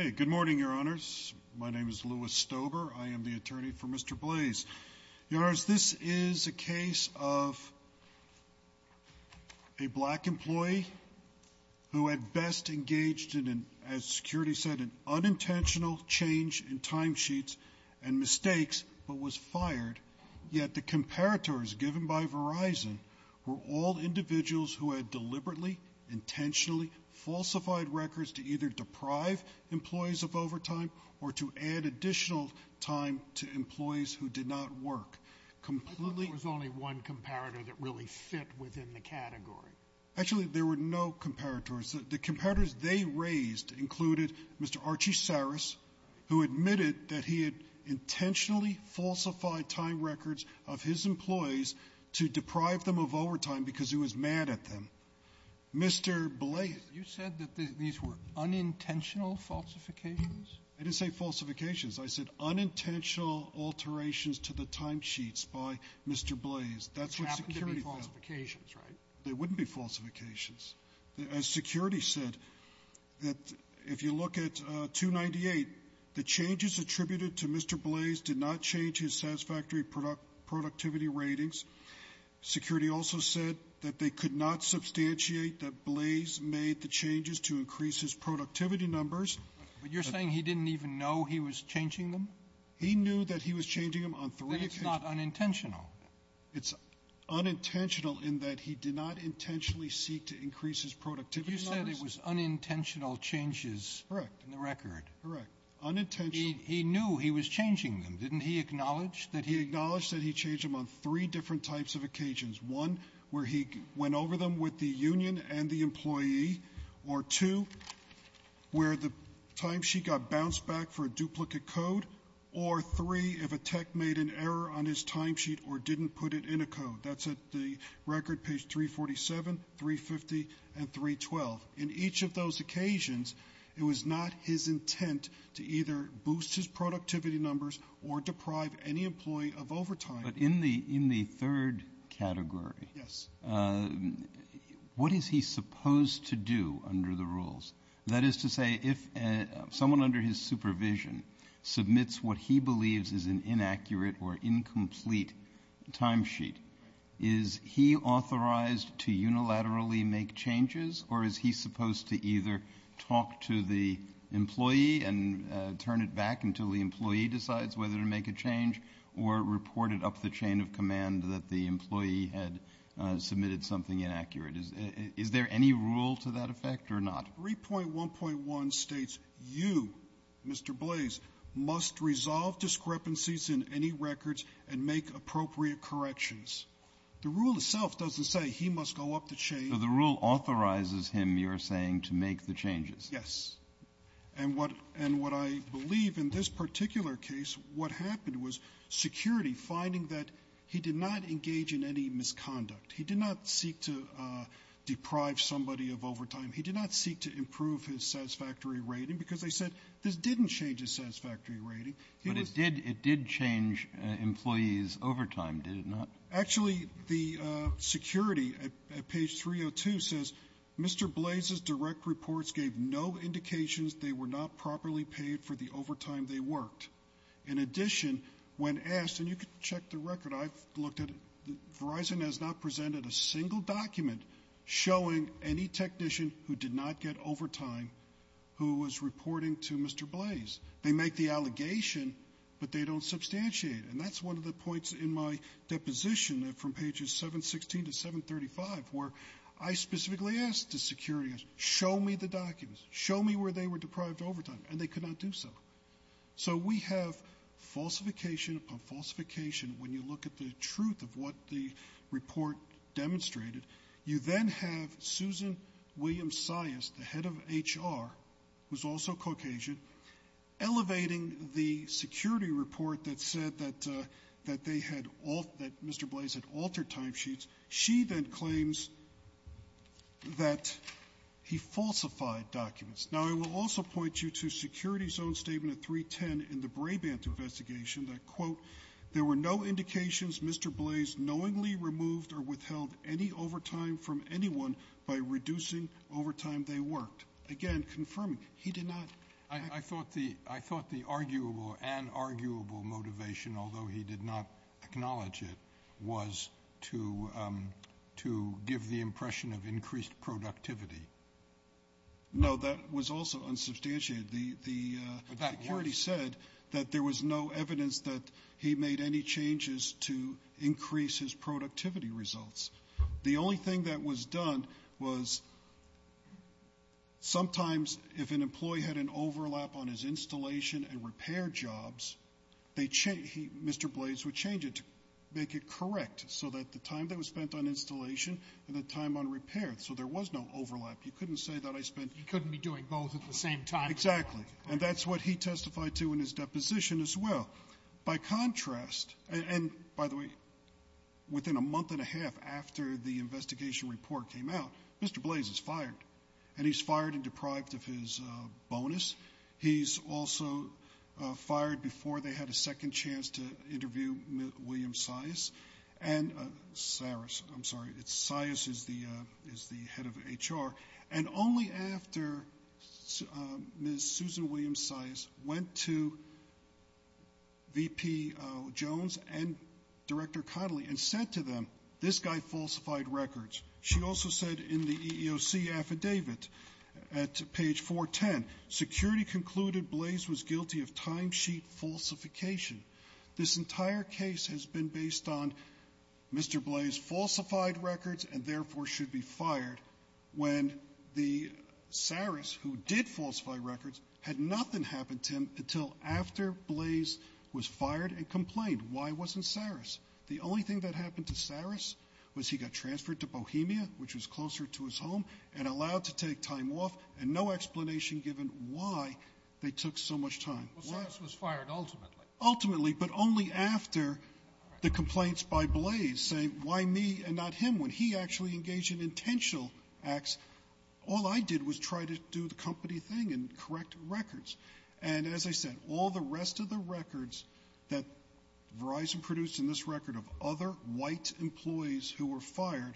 Good morning, your honors. My name is Louis Stober. I am the attorney for Mr. Blaze. This is a case of a black employee who had best engaged in, as security said, an unintentional change in timesheets and mistakes but was fired, yet the comparators given by Verizon were all individuals who had deliberately, intentionally falsified records to either deprive employees of overtime or to add additional time to employees who did not work. I thought there was only one comparator that really fit within the category. Actually, there were no comparators. The comparators they raised included Mr. Archie Saris, who admitted that he had intentionally falsified time records of his employees to deprive them of overtime because he was mad at them. Mr. Blaze. You said that these were unintentional falsifications? I didn't say falsifications. I said unintentional alterations to the timesheets by Mr. Blaze. That's what security found. Which happened to be falsifications, right? They wouldn't be falsifications. As security said, that if you look at 298, the changes attributed to Mr. Blaze did not change his satisfactory productivity ratings. Security also said that they could not substantiate that Blaze made the changes to increase his productivity numbers. But you're saying he didn't even know he was changing them? He knew that he was changing them on three occasions. But it's not unintentional. It's unintentional in that he did not intentionally seek to increase his productivity numbers. But you said it was unintentional changes in the record. Correct. Unintentional. He knew he was changing them. Didn't he acknowledge that he — He acknowledged that he changed them on three different types of occasions. One, where he went over them with the union and the employee. Or two, where the timesheet got bounced back for a duplicate code. Or three, if a tech made an error on his timesheet or didn't put it in a code. That's at the record page 347, 350, and 312. In each of those occasions, it was not his intent to either boost his productivity numbers or deprive any employee of overtime. But in the third category, what is he supposed to do under the rules? That is to say, if someone under his supervision submits what he believes is an inaccurate or incomplete timesheet, is he authorized to unilaterally make changes? Or is he supposed to either talk to the employee and turn it back until the employee decides whether to make a change? Or report it up the chain of command that the employee had submitted something inaccurate? Is there any rule to that effect or not? 3.1.1 states, you, Mr. Blaze, must resolve discrepancies in any records and make appropriate corrections. The rule itself doesn't say he must go up the chain. So the rule authorizes him, you're saying, to make the changes? Yes. And what I believe in this particular case, what happened was security finding that he did not engage in any misconduct. He did not seek to deprive somebody of overtime. He did not seek to improve his satisfactory rating because they said this didn't change his satisfactory rating. But it did. It did change employees' overtime, did it not? Actually, the security at page 302 says, Mr. Blaze's direct reports gave no indications they were not properly paid for the overtime they worked. In addition, when asked, and you can check the record, I've looked at it, Verizon has not presented a single document showing any technician who did not get overtime who was reporting to Mr. Blaze. They make the allegation, but they don't substantiate it. And that's one of the points in my deposition from pages 716 to 735, where I specifically asked the security, show me the documents, show me where they were deprived of overtime, and they could not do so. So we have falsification upon falsification. When you look at the truth of what the report demonstrated, you then have Susan Williams-Sias, the head of HR, who's also Caucasian, elevating the security report that said that they had all, that Mr. Blaze had altered timesheets. She then claims that he falsified documents. Now, I will also point you to security's own statement at 310 in the Brabant investigation that, quote, there were no indications Mr. Blaze knowingly removed or withheld any overtime from anyone by reducing overtime they worked. Again, confirming he did not. I thought the I thought the arguable and arguable motivation, although he did not acknowledge it, was to to give the impression of increased productivity. No, that was also unsubstantiated. The security said that there was no evidence that he made any changes to increase his productivity results. The only thing that was done was sometimes if an employee had an overlap on his installation and repair jobs, they Mr. Blaze would change it to make it correct so that the time that was spent on installation and the time on repair. So there was no overlap. You couldn't say that I spent. He couldn't be doing both at the same time. Exactly. And that's what he testified to in his deposition as well. By contrast, and by the way, within a month and a half after the investigation report came out, Mr. Blaze is fired and he's fired and deprived of his bonus. He's also fired before they had a second chance to interview William size and Sarah's. I'm sorry. It's size is the is the head of H.R. And only after Miss Susan Williams size went to. V.P. Jones and Director Connelly and said to them, this guy falsified records. She also said in the EEOC affidavit at page 410, security concluded Blaze was guilty of timesheet falsification. This entire case has been based on Mr. Blaze falsified records and therefore should be fired when the Saris, who did falsify records, had nothing happened to him until after Blaze was fired and complained. Why wasn't Saris? The only thing that happened to Saris was he got transferred to Bohemia, which was closer to his home and allowed to take time off and no explanation given why they took so much time was fired ultimately, ultimately, but only after the complaints by Blaze saying why me and not him when he actually engaged in intentional acts. All I did was try to do the company thing and correct records. And as I said, all the rest of the records that Verizon produced in this record of other white employees who were fired,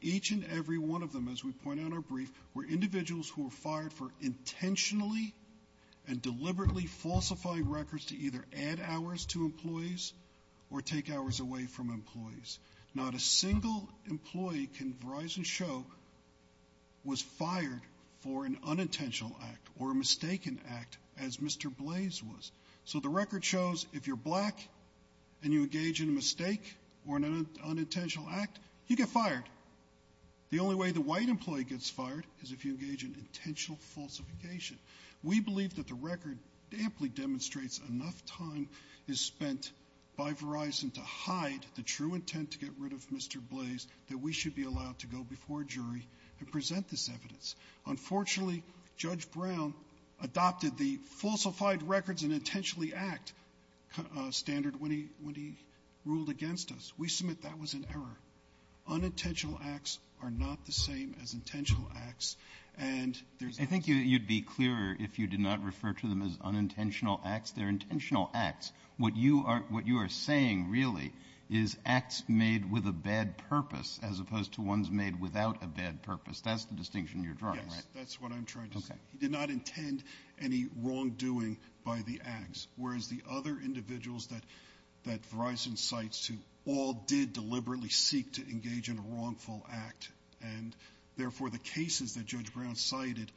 each and every one of them, as we point out, are brief where individuals who are fired for intentionally and deliberately falsify records to either add hours to employees or take hours away from employees. Not a single employee can Verizon show was fired for an unintentional act or mistaken act as Mr. Blaze was. So the record shows if you're black and you engage in a mistake or an unintentional act, you get fired. The only way the white employee gets fired is if you engage in intentional falsification. We believe that the record amply demonstrates enough time is spent by Verizon to hide the true intent to get rid of Mr. Blaze that we should be allowed to go before a jury and present this evidence. Unfortunately, Judge Brown adopted the falsified records and intentionally act standard when he when he ruled against us. We submit that was an error. Unintentional acts are not the same as intentional acts. And I think you'd be clearer if you did not refer to them as unintentional acts. They're intentional acts. What you are what you are saying really is acts made with a bad purpose as opposed to ones made without a bad purpose. That's the distinction you're drawing. That's what I'm trying to say. He did not intend any wrongdoing by the acts, whereas the other individuals that that Verizon cites to all did deliberately seek to engage in a wrongful act. And therefore, the cases that Judge Brown cited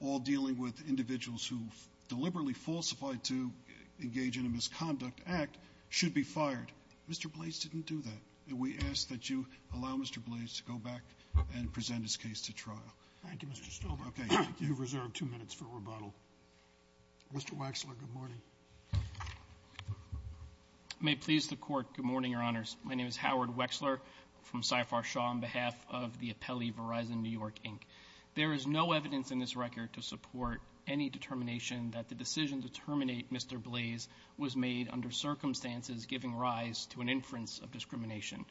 all dealing with individuals who deliberately falsified to engage in a misconduct act should be fired. Mr. Blaze didn't do that. We ask that you allow Mr. Blaze to go back and present his case to trial. Thank you, Mr. Stover. OK, you've reserved two minutes for rebuttal. Mr. Wexler, good morning. May please the court. Good morning, Your Honors. My name is Howard Wexler from Cypher Shaw on behalf of the appellee Verizon New York Inc. There is no evidence in this record to support any determination that the decision to terminate Mr. Blaze was made under circumstances giving rise to an inference of discrimination.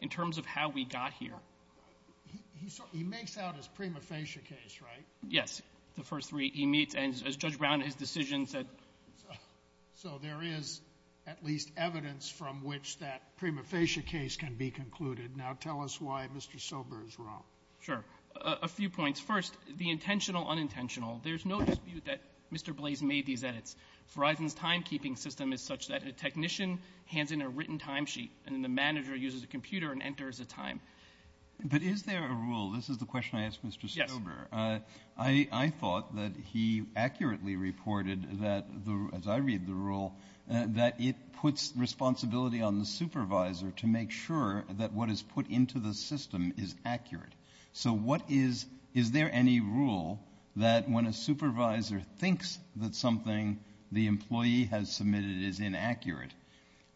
In terms of how we got here, he makes out his prima facie case, right? Yes. The first three he meets as Judge Brown, his decision said. So there is at least evidence from which that prima facie case can be concluded. Now, tell us why Mr. Sober is wrong. Sure. A few points. First, the intentional unintentional. There's no dispute that Mr. Blaze made these edits. Verizon's timekeeping system is such that a technician hands in a written timesheet and the manager uses a computer and enters a time. But is there a rule? This is the question I asked Mr. Sober. I thought that he accurately reported that, as I read the rule, that it puts responsibility on the supervisor to make sure that what is put into the system is accurate. So what is, is there any rule that when a supervisor thinks that something the employee has submitted is inaccurate,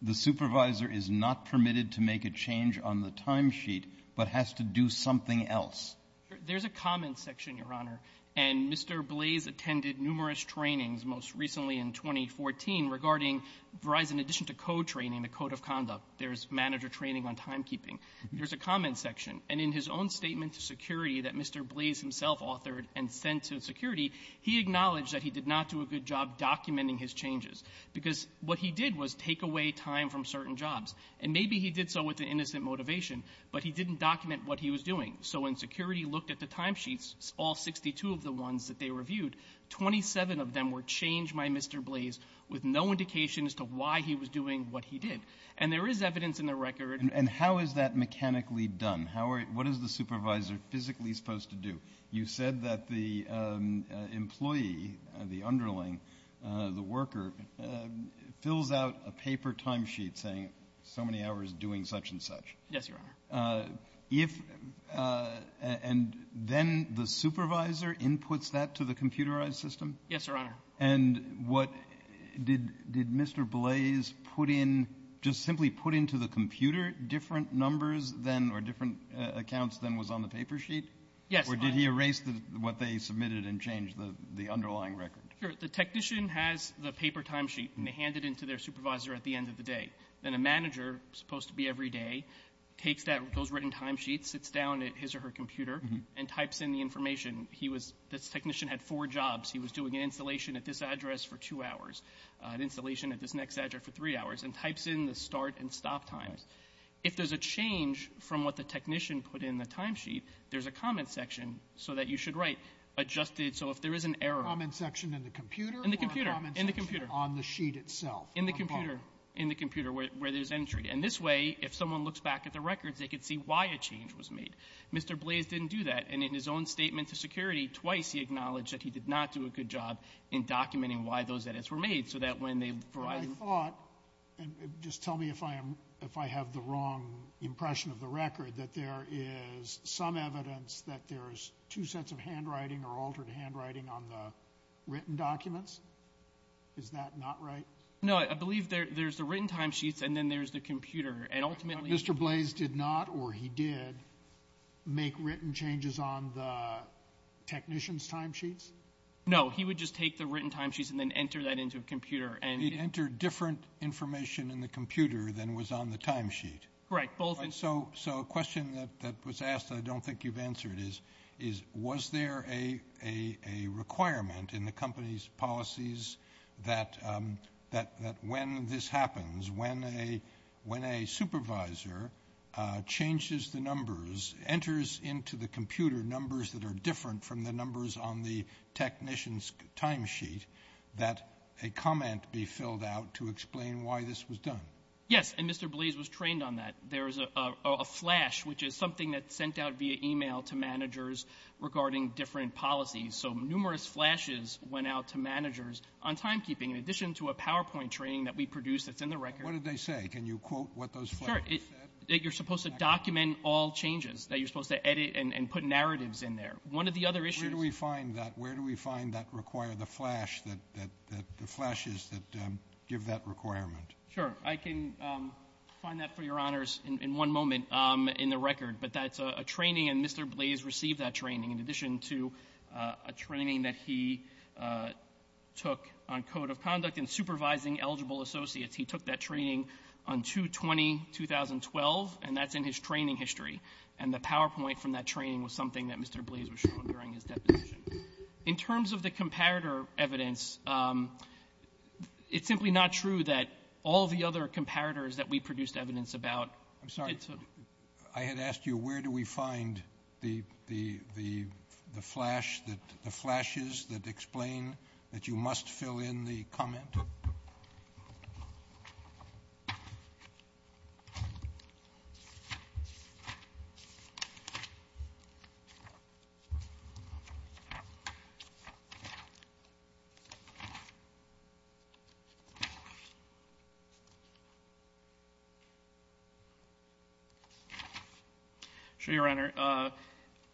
the supervisor is not permitted to make a change on the timesheet, but has to do something else? There's a comment section, Your Honor, and Mr. Blaze attended numerous trainings, most recently in 2014, regarding Verizon addition to co-training, the code of conduct. There's manager training on timekeeping. There's a comment section. And in his own statement to security that Mr. Blaze himself authored and sent to security, he acknowledged that he did not do a good job documenting his changes, because what he did was take away time from certain jobs. And maybe he did so with an innocent motivation, but he didn't document what he was doing. So when security looked at the timesheets, all 62 of the ones that they reviewed, 27 of them were changed by Mr. Blaze with no indication as to why he was doing what he did. And there is evidence in the record. And how is that mechanically done? How are, what is the supervisor physically supposed to do? You said that the employee, the underling, the worker, fills out a paper timesheet saying so many hours doing such and such. Yes, Your Honor. If, and then the supervisor inputs that to the computerized system? Yes, Your Honor. And what, did, did Mr. Blaze put in, just simply put into the computer different numbers than, or different accounts than was on the paper sheet? Yes, Your Honor. Or did he erase what they submitted and change the underlying record? Sure. The technician has the paper timesheet and they hand it in to their supervisor at the end of the day. Then a manager, supposed to be every day, takes that, those written timesheets, sits down at his or her computer and types in the information. He was, this technician had four jobs. He was doing an installation at this address for two hours, an installation at this next address for three hours, and types in the start and stop times. If there's a change from what the technician put in the timesheet, there's a comment section so that you should write, adjusted, so if there is an error. A comment section in the computer or a comment section on the sheet itself? In the computer. In the computer where, where there's entry. And this way, if someone looks back at the records, they could see why a change was made. Mr. Blaze didn't do that. And in his own statement to security, twice he acknowledged that he did not do a good job in documenting why those edits were made. So that when they provide. I thought, and just tell me if I am, if I have the wrong impression of the record, that there is some evidence that there's two sets of handwriting or altered handwriting on the written documents. Is that not right? No, I believe there, there's the written timesheets and then there's the computer. And ultimately. Mr. Blaze did not, or he did, make written changes on the technician's timesheets? No, he would just take the written timesheets and then enter that into a computer and. He entered different information in the computer than was on the timesheet. Correct. Both. So, so a question that was asked that I don't think you've answered is, is, was there a, a, a requirement in the company's policies that, that, that when this happens, when a, when a supervisor changes the numbers, enters into the computer numbers that are different from the numbers on the technician's timesheet, that a comment be filled out to explain why this was done? Yes. And Mr. Blaze was trained on that. There's a, a, a flash, which is something that's sent out via email to managers regarding different policies. So numerous flashes went out to managers on timekeeping. In addition to a PowerPoint training that we produce that's in the record. What did they say? Can you quote what those? Sure. You're supposed to document all changes that you're supposed to edit and put narratives in there. One of the other issues. Where do we find that? Where do we find that require the flash that, that, that the flashes that give that requirement? Sure. I can find that for your honors in one moment in the record, but that's a training and Mr. Blaze received that training in addition to a training that he took on code of conduct and supervising eligible associates. He took that training on 2-20-2012 and that's in his training history. And the PowerPoint from that training was something that Mr. Blaze was showing during his deposition. In terms of the comparator evidence, um, it's simply not true that all of the other comparators that we produced evidence about. I'm sorry, I had asked you, where do we find the, the, the, the flash that the flashes that explain that you must fill in the comment? Sure. Your honor, uh,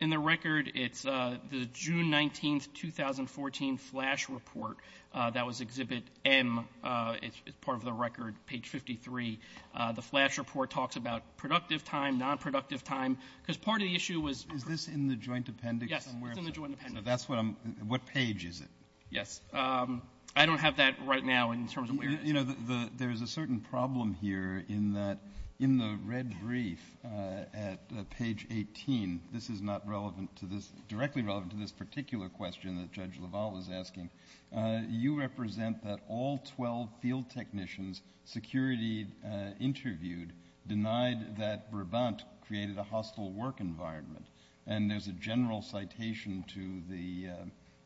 in the record, it's, uh, the June 19th, 2014 flash report. Uh, that was exhibit M, uh, it's part of the record page 53. Uh, the flash report talks about productive time, nonproductive time, because part of the issue was. Is this in the joint appendix? Yes, it's in the joint appendix. Now that's what I'm, what page is it? Yes. Um, I don't have that right now in terms of where it is. You know, the, the, there's a certain problem here in that in the red brief, uh, at page 18, this is not relevant to this, directly relevant to this particular question that Judge LaValle was asking. Uh, you represent that all 12 field technicians security, uh, interviewed denied that Brabant created a hostile work environment. And there's a general citation to the,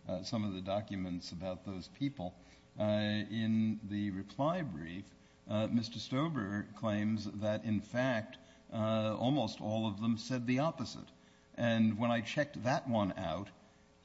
uh, uh, some of the documents about those people, uh, in the reply brief, uh, Mr. Stober claims that in fact, uh, almost all of them said the opposite. And when I checked that one out,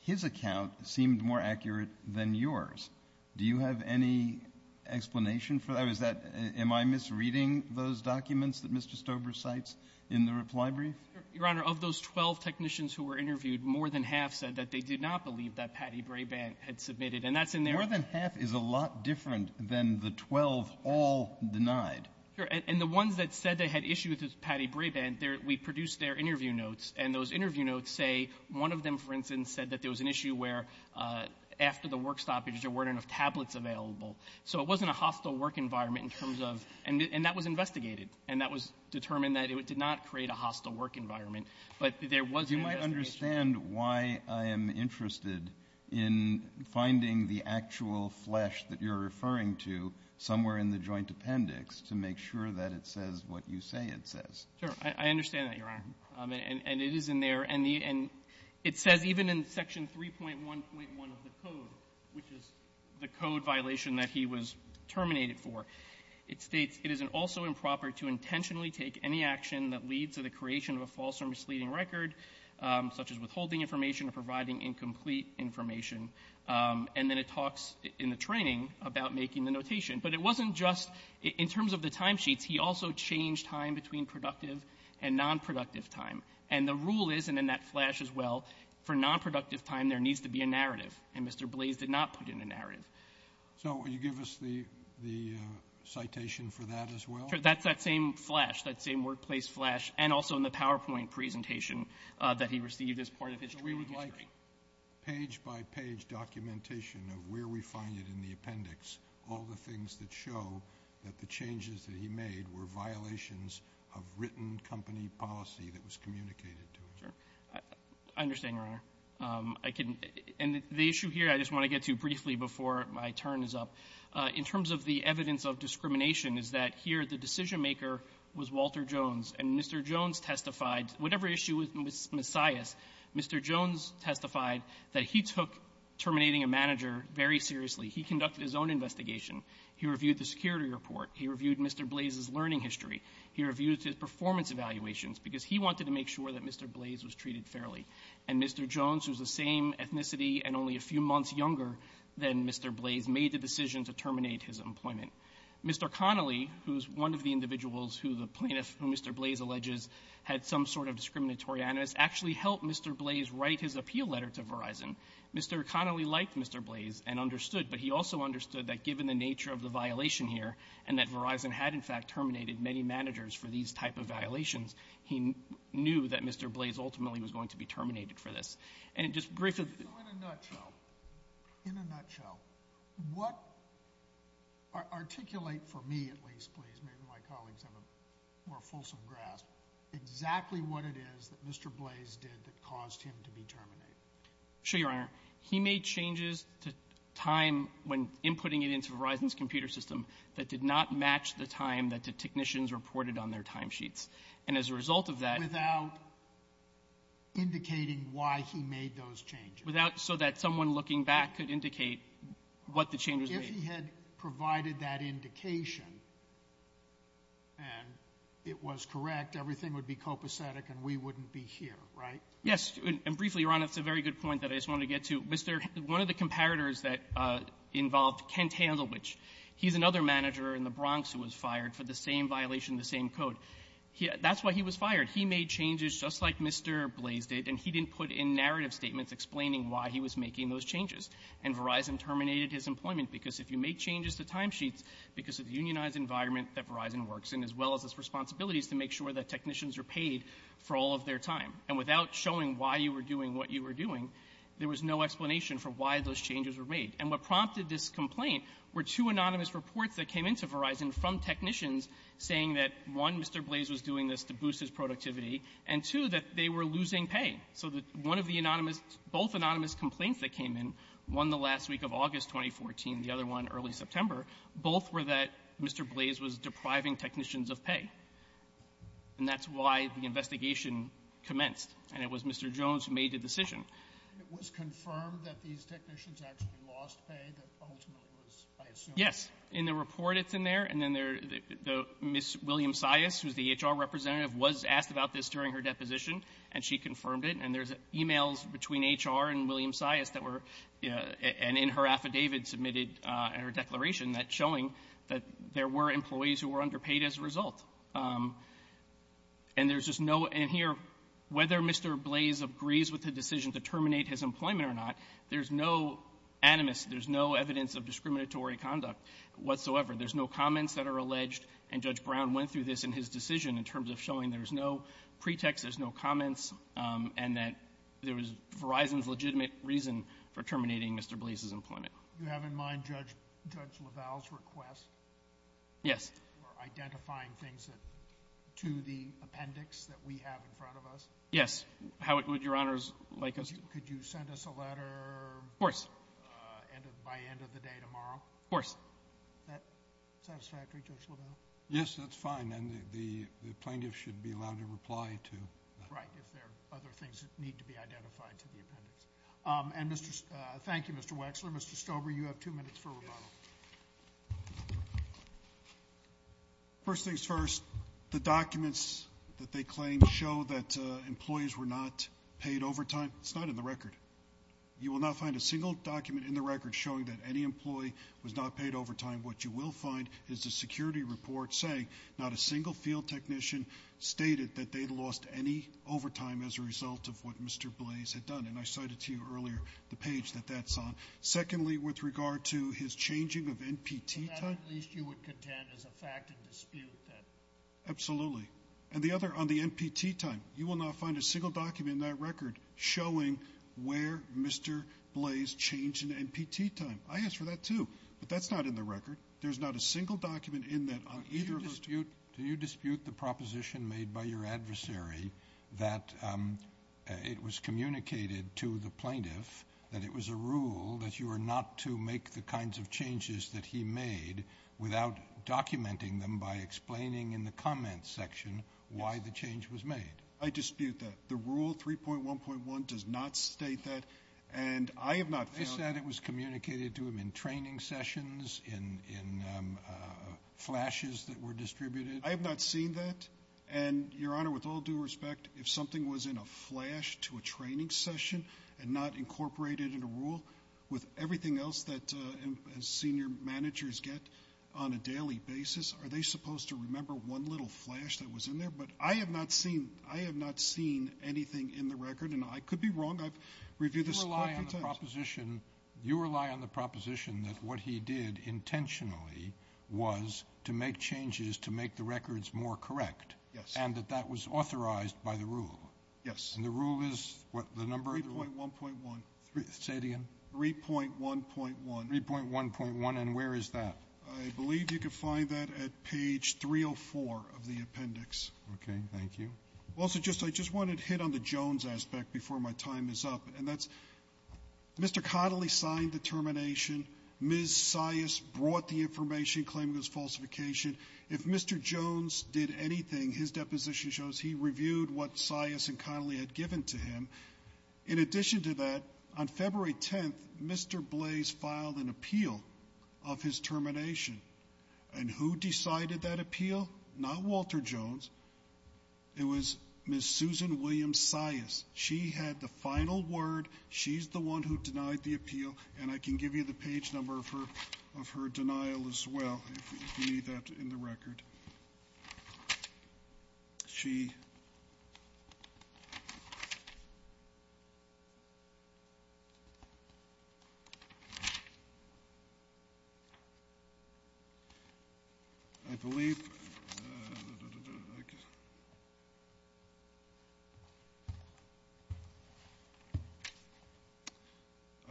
his account seemed more accurate than yours. Do you have any explanation for that? Was that, am I misreading those documents that Mr. Stober cites in the reply brief? Your Honor, of those 12 technicians who were interviewed, more than half said that they did not believe that Patty Brabant had submitted. And that's in there. More than half is a lot different than the 12 all denied. Sure. And the ones that said they had issues with Patty Brabant there, we produced their interview notes and those interview notes say one of them, for instance, said that there was an issue where, uh, after the work stoppage, there weren't enough tablets available. So it wasn't a hostile work environment in terms of, and that was investigated and that was determined that it did not create a hostile work environment, but there was an investigation. You might understand why I am interested in finding the actual flesh that you're referring to somewhere in the joint appendix to make sure that it says what you say it says. Sure. I understand that, Your Honor. Um, and it is in there and the, and it says even in section 3.1.1 of the code, which is the code violation that he was terminated for. It states it is an also improper to intentionally take any action that leads to the creation of a false or misleading record, um, such as withholding information or providing incomplete information. Um, and then it talks in the training about making the notation, but it wasn't just in terms of the timesheets. He also changed time between productive and nonproductive time. And the rule is, and then that flash as well for nonproductive time, there needs to be a narrative and Mr. Blaze did not put in a narrative. So will you give us the, the, uh, citation for that as well? That's that same flash, that same workplace flash. And also in the PowerPoint presentation, uh, that he received as part of history, page by page documentation of where we find it in the appendix, all the things that show that the changes that he made were violations of written company policy that was communicated to him. I understand your honor. Um, I can, and the issue here, I just want to get to briefly before my turn is up, uh, in terms of the evidence of discrimination is that here, the decision maker was Walter Jones and Mr. Jones testified, whatever issue with Messiahs, Mr. Jones testified that he took terminating a manager very seriously. He conducted his own investigation. He reviewed the security report. He reviewed Mr. Blaze's learning history. He reviewed his performance evaluations because he wanted to make sure that Mr. Blaze was treated fairly. And Mr. Jones, who's the same ethnicity and only a few months younger than Mr. Blaze made the decision to terminate his employment. Mr. Connolly, who's one of the individuals who the plaintiff who Mr. Blaze alleges had some sort of discriminatory animus actually helped Mr. Blaze write his appeal letter to Verizon. Mr. Connolly liked Mr. Blaze and understood, but he also understood that given the nature of the violation here and that Verizon had in fact terminated many managers for these type of violations, that Verizon had in fact terminated for this and just briefly in a nutshell, what articulate for me, at least, please, maybe my colleagues have a more fulsome grasp, exactly what it is that Mr. Blaze did that caused him to be terminated. Sure. Your honor, he made changes to time when inputting it into Verizon's computer system that did not match the time that the technicians reported on their timesheets. And as a result of that, without indicating why he made those changes without so that someone looking back could indicate what the changes if he had provided that indication and it was correct. Everything would be copacetic and we wouldn't be here, right? Yes. And briefly, your honor, it's a very good point that I just want to get to Mr. One of the comparators that involved Kent Handel, which he's another manager in the Bronx who was fired for the same violation, the same code. That's why he was fired. He made changes just like Mr. Blaze did, and he didn't put in narrative statements explaining why he was making those changes. And Verizon terminated his employment because if you make changes to timesheets because of the unionized environment that Verizon works in, as well as its responsibilities to make sure that technicians are paid for all of their time. And without showing why you were doing what you were doing, there was no explanation for why those changes were made. And what prompted this complaint were two anonymous reports that came into Verizon from technicians saying that, one, Mr. Blaze was doing this to boost his productivity, and, two, that they were losing pay. So that one of the anonymous, both anonymous complaints that came in, one the last week of August 2014, the other one early September, both were that Mr. Blaze was depriving technicians of pay. And that's why the investigation commenced, and it was Mr. Jones who made the decision. It was confirmed that these technicians actually lost pay that ultimately was, I assume. Yes, in the report it's in there, and then Ms. William Sias, who's the HR representative, was asked about this during her deposition, and she confirmed it. And there's emails between HR and William Sias that were, and in her affidavit submitted, and her declaration, that's showing that there were employees who were underpaid as a result. And there's just no, and here, whether Mr. Blaze agrees with the decision to terminate his employment or not, there's no animus, there's no evidence of discriminatory conduct whatsoever. There's no comments that are alleged, and Judge Brown went through this in his decision in terms of showing there's no pretext, there's no comments, and that there was Verizon's legitimate reason for terminating Mr. Blaze's employment. You have in mind Judge LaValle's request? Yes. For identifying things that, to the appendix that we have in front of us? Yes. How would Your Honors like us to? Could you send us a letter? Of course. By end of the day tomorrow? Of course. Is that satisfactory, Judge LaValle? Yes, that's fine, and the plaintiff should be allowed to reply to that. Right, if there are other things that need to be identified to the appendix. And thank you, Mr. Wexler. Mr. Stober, you have two minutes for rebuttal. First things first, the documents that they claim show that employees were not paid overtime, it's not in the record. You will not find a single document in the record showing that any employee was not paid overtime. What you will find is a security report saying not a single field technician stated that they'd lost any overtime as a result of what Mr. Blaze had done. And I cited to you earlier the page that that's on. Secondly, with regard to his changing of NPT time. That, at least, you would contend is a fact and dispute that. Absolutely. And the other, on the NPT time, you will not find a single document in that record showing where Mr. Blaze changed in NPT time. I ask for that, too. But that's not in the record. There's not a single document in that on either of those. Do you dispute the proposition made by your adversary that it was communicated to the plaintiff that it was a rule that you were not to make the kinds of changes that he made without documenting them by explaining in the comments section why the change was made? I dispute that. The rule 3.1.1 does not state that. And I have not found... I have not seen that. And, Your Honor, with all due respect, if something was in a flash to a training session and not incorporated in a rule with everything else that senior managers get on a daily basis, are they supposed to remember one little flash that was in there? But I have not seen... I have not seen anything in the record. And I could be wrong. I've reviewed this... You rely on the proposition... You rely on the proposition that what he did intentionally was to make changes to make the records more correct. Yes. And that that was authorized by the rule. Yes. And the rule is what? The number... 3.1.1. Say it again. 3.1.1. 3.1.1. And where is that? I believe you can find that at page 304 of the appendix. Okay. Thank you. Also, I just wanted to hit on the Jones aspect before my time is up, and that's Mr. Connolly signed the termination. Ms. Sias brought the information claiming it was falsification. If Mr. Jones did anything, his deposition shows he reviewed what Sias and Connolly had given to him. In addition to that, on February 10th, Mr. Blaze filed an appeal of his termination. And who decided that appeal? Not Walter Jones. It was Ms. Susan Williams Sias. She had the final word. She's the one who denied the appeal. And I can give you the page number of her of her denial as well, if you need that in the record. She I believe that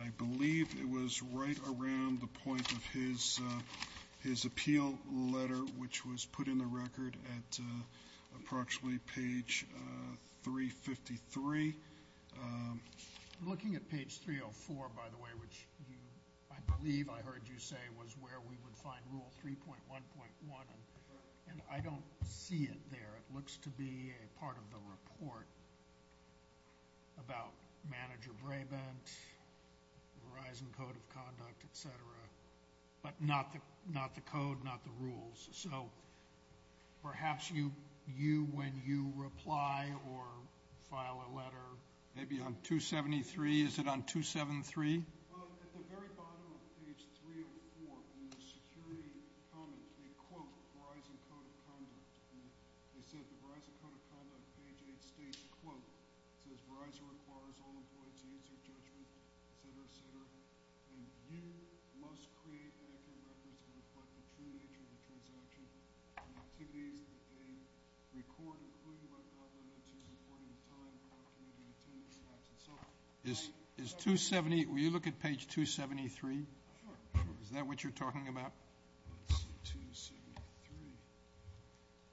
I believe it was right around the point of his appeal letter, which was put in the record at approximately page 353. Looking at page 304, by the way, which you I believe I heard you say was where we would find Rule 3.1.1, and I don't see it there. It looks to be a part of the report about Manager Brabant, Verizon Code of Conduct, etc. But not the code, not the rules. So perhaps you, when you reply or file a letter. Maybe on 273. Is it on 273? At the very bottom of page 304, in the security comment, they quote Verizon Code of Conduct. They said the Verizon Code of Conduct, page 8 states, quote, says Verizon requires all employees to use their judgment, etc., etc. And you must create etiquette records that reflect the true nature of the transaction and activities that they record, including whatnot related to supporting the time of our community attendance and so on. Is 270, will you look at page 273? Sure, sure. Is that what you're talking about? Let's see,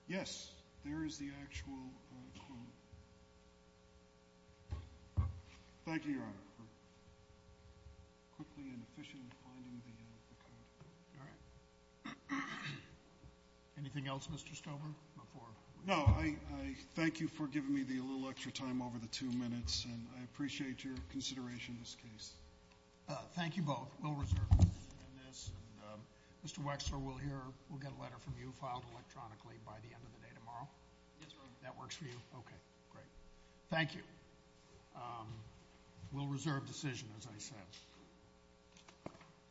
273. Yes, there is the actual quote. Thank you, Your Honor, for quickly and efficiently finding the code. All right. Anything else, Mr. Stober? No, I thank you for giving me the little extra time over the two minutes. And I appreciate your consideration of this case. Thank you both. We'll reserve decision in this. And Mr. Wexler, we'll hear, we'll get a letter from you filed electronically by the end of the day tomorrow? Yes, Your Honor. That works for you? Okay, great. Thank you. We'll reserve decision, as I said.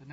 The next.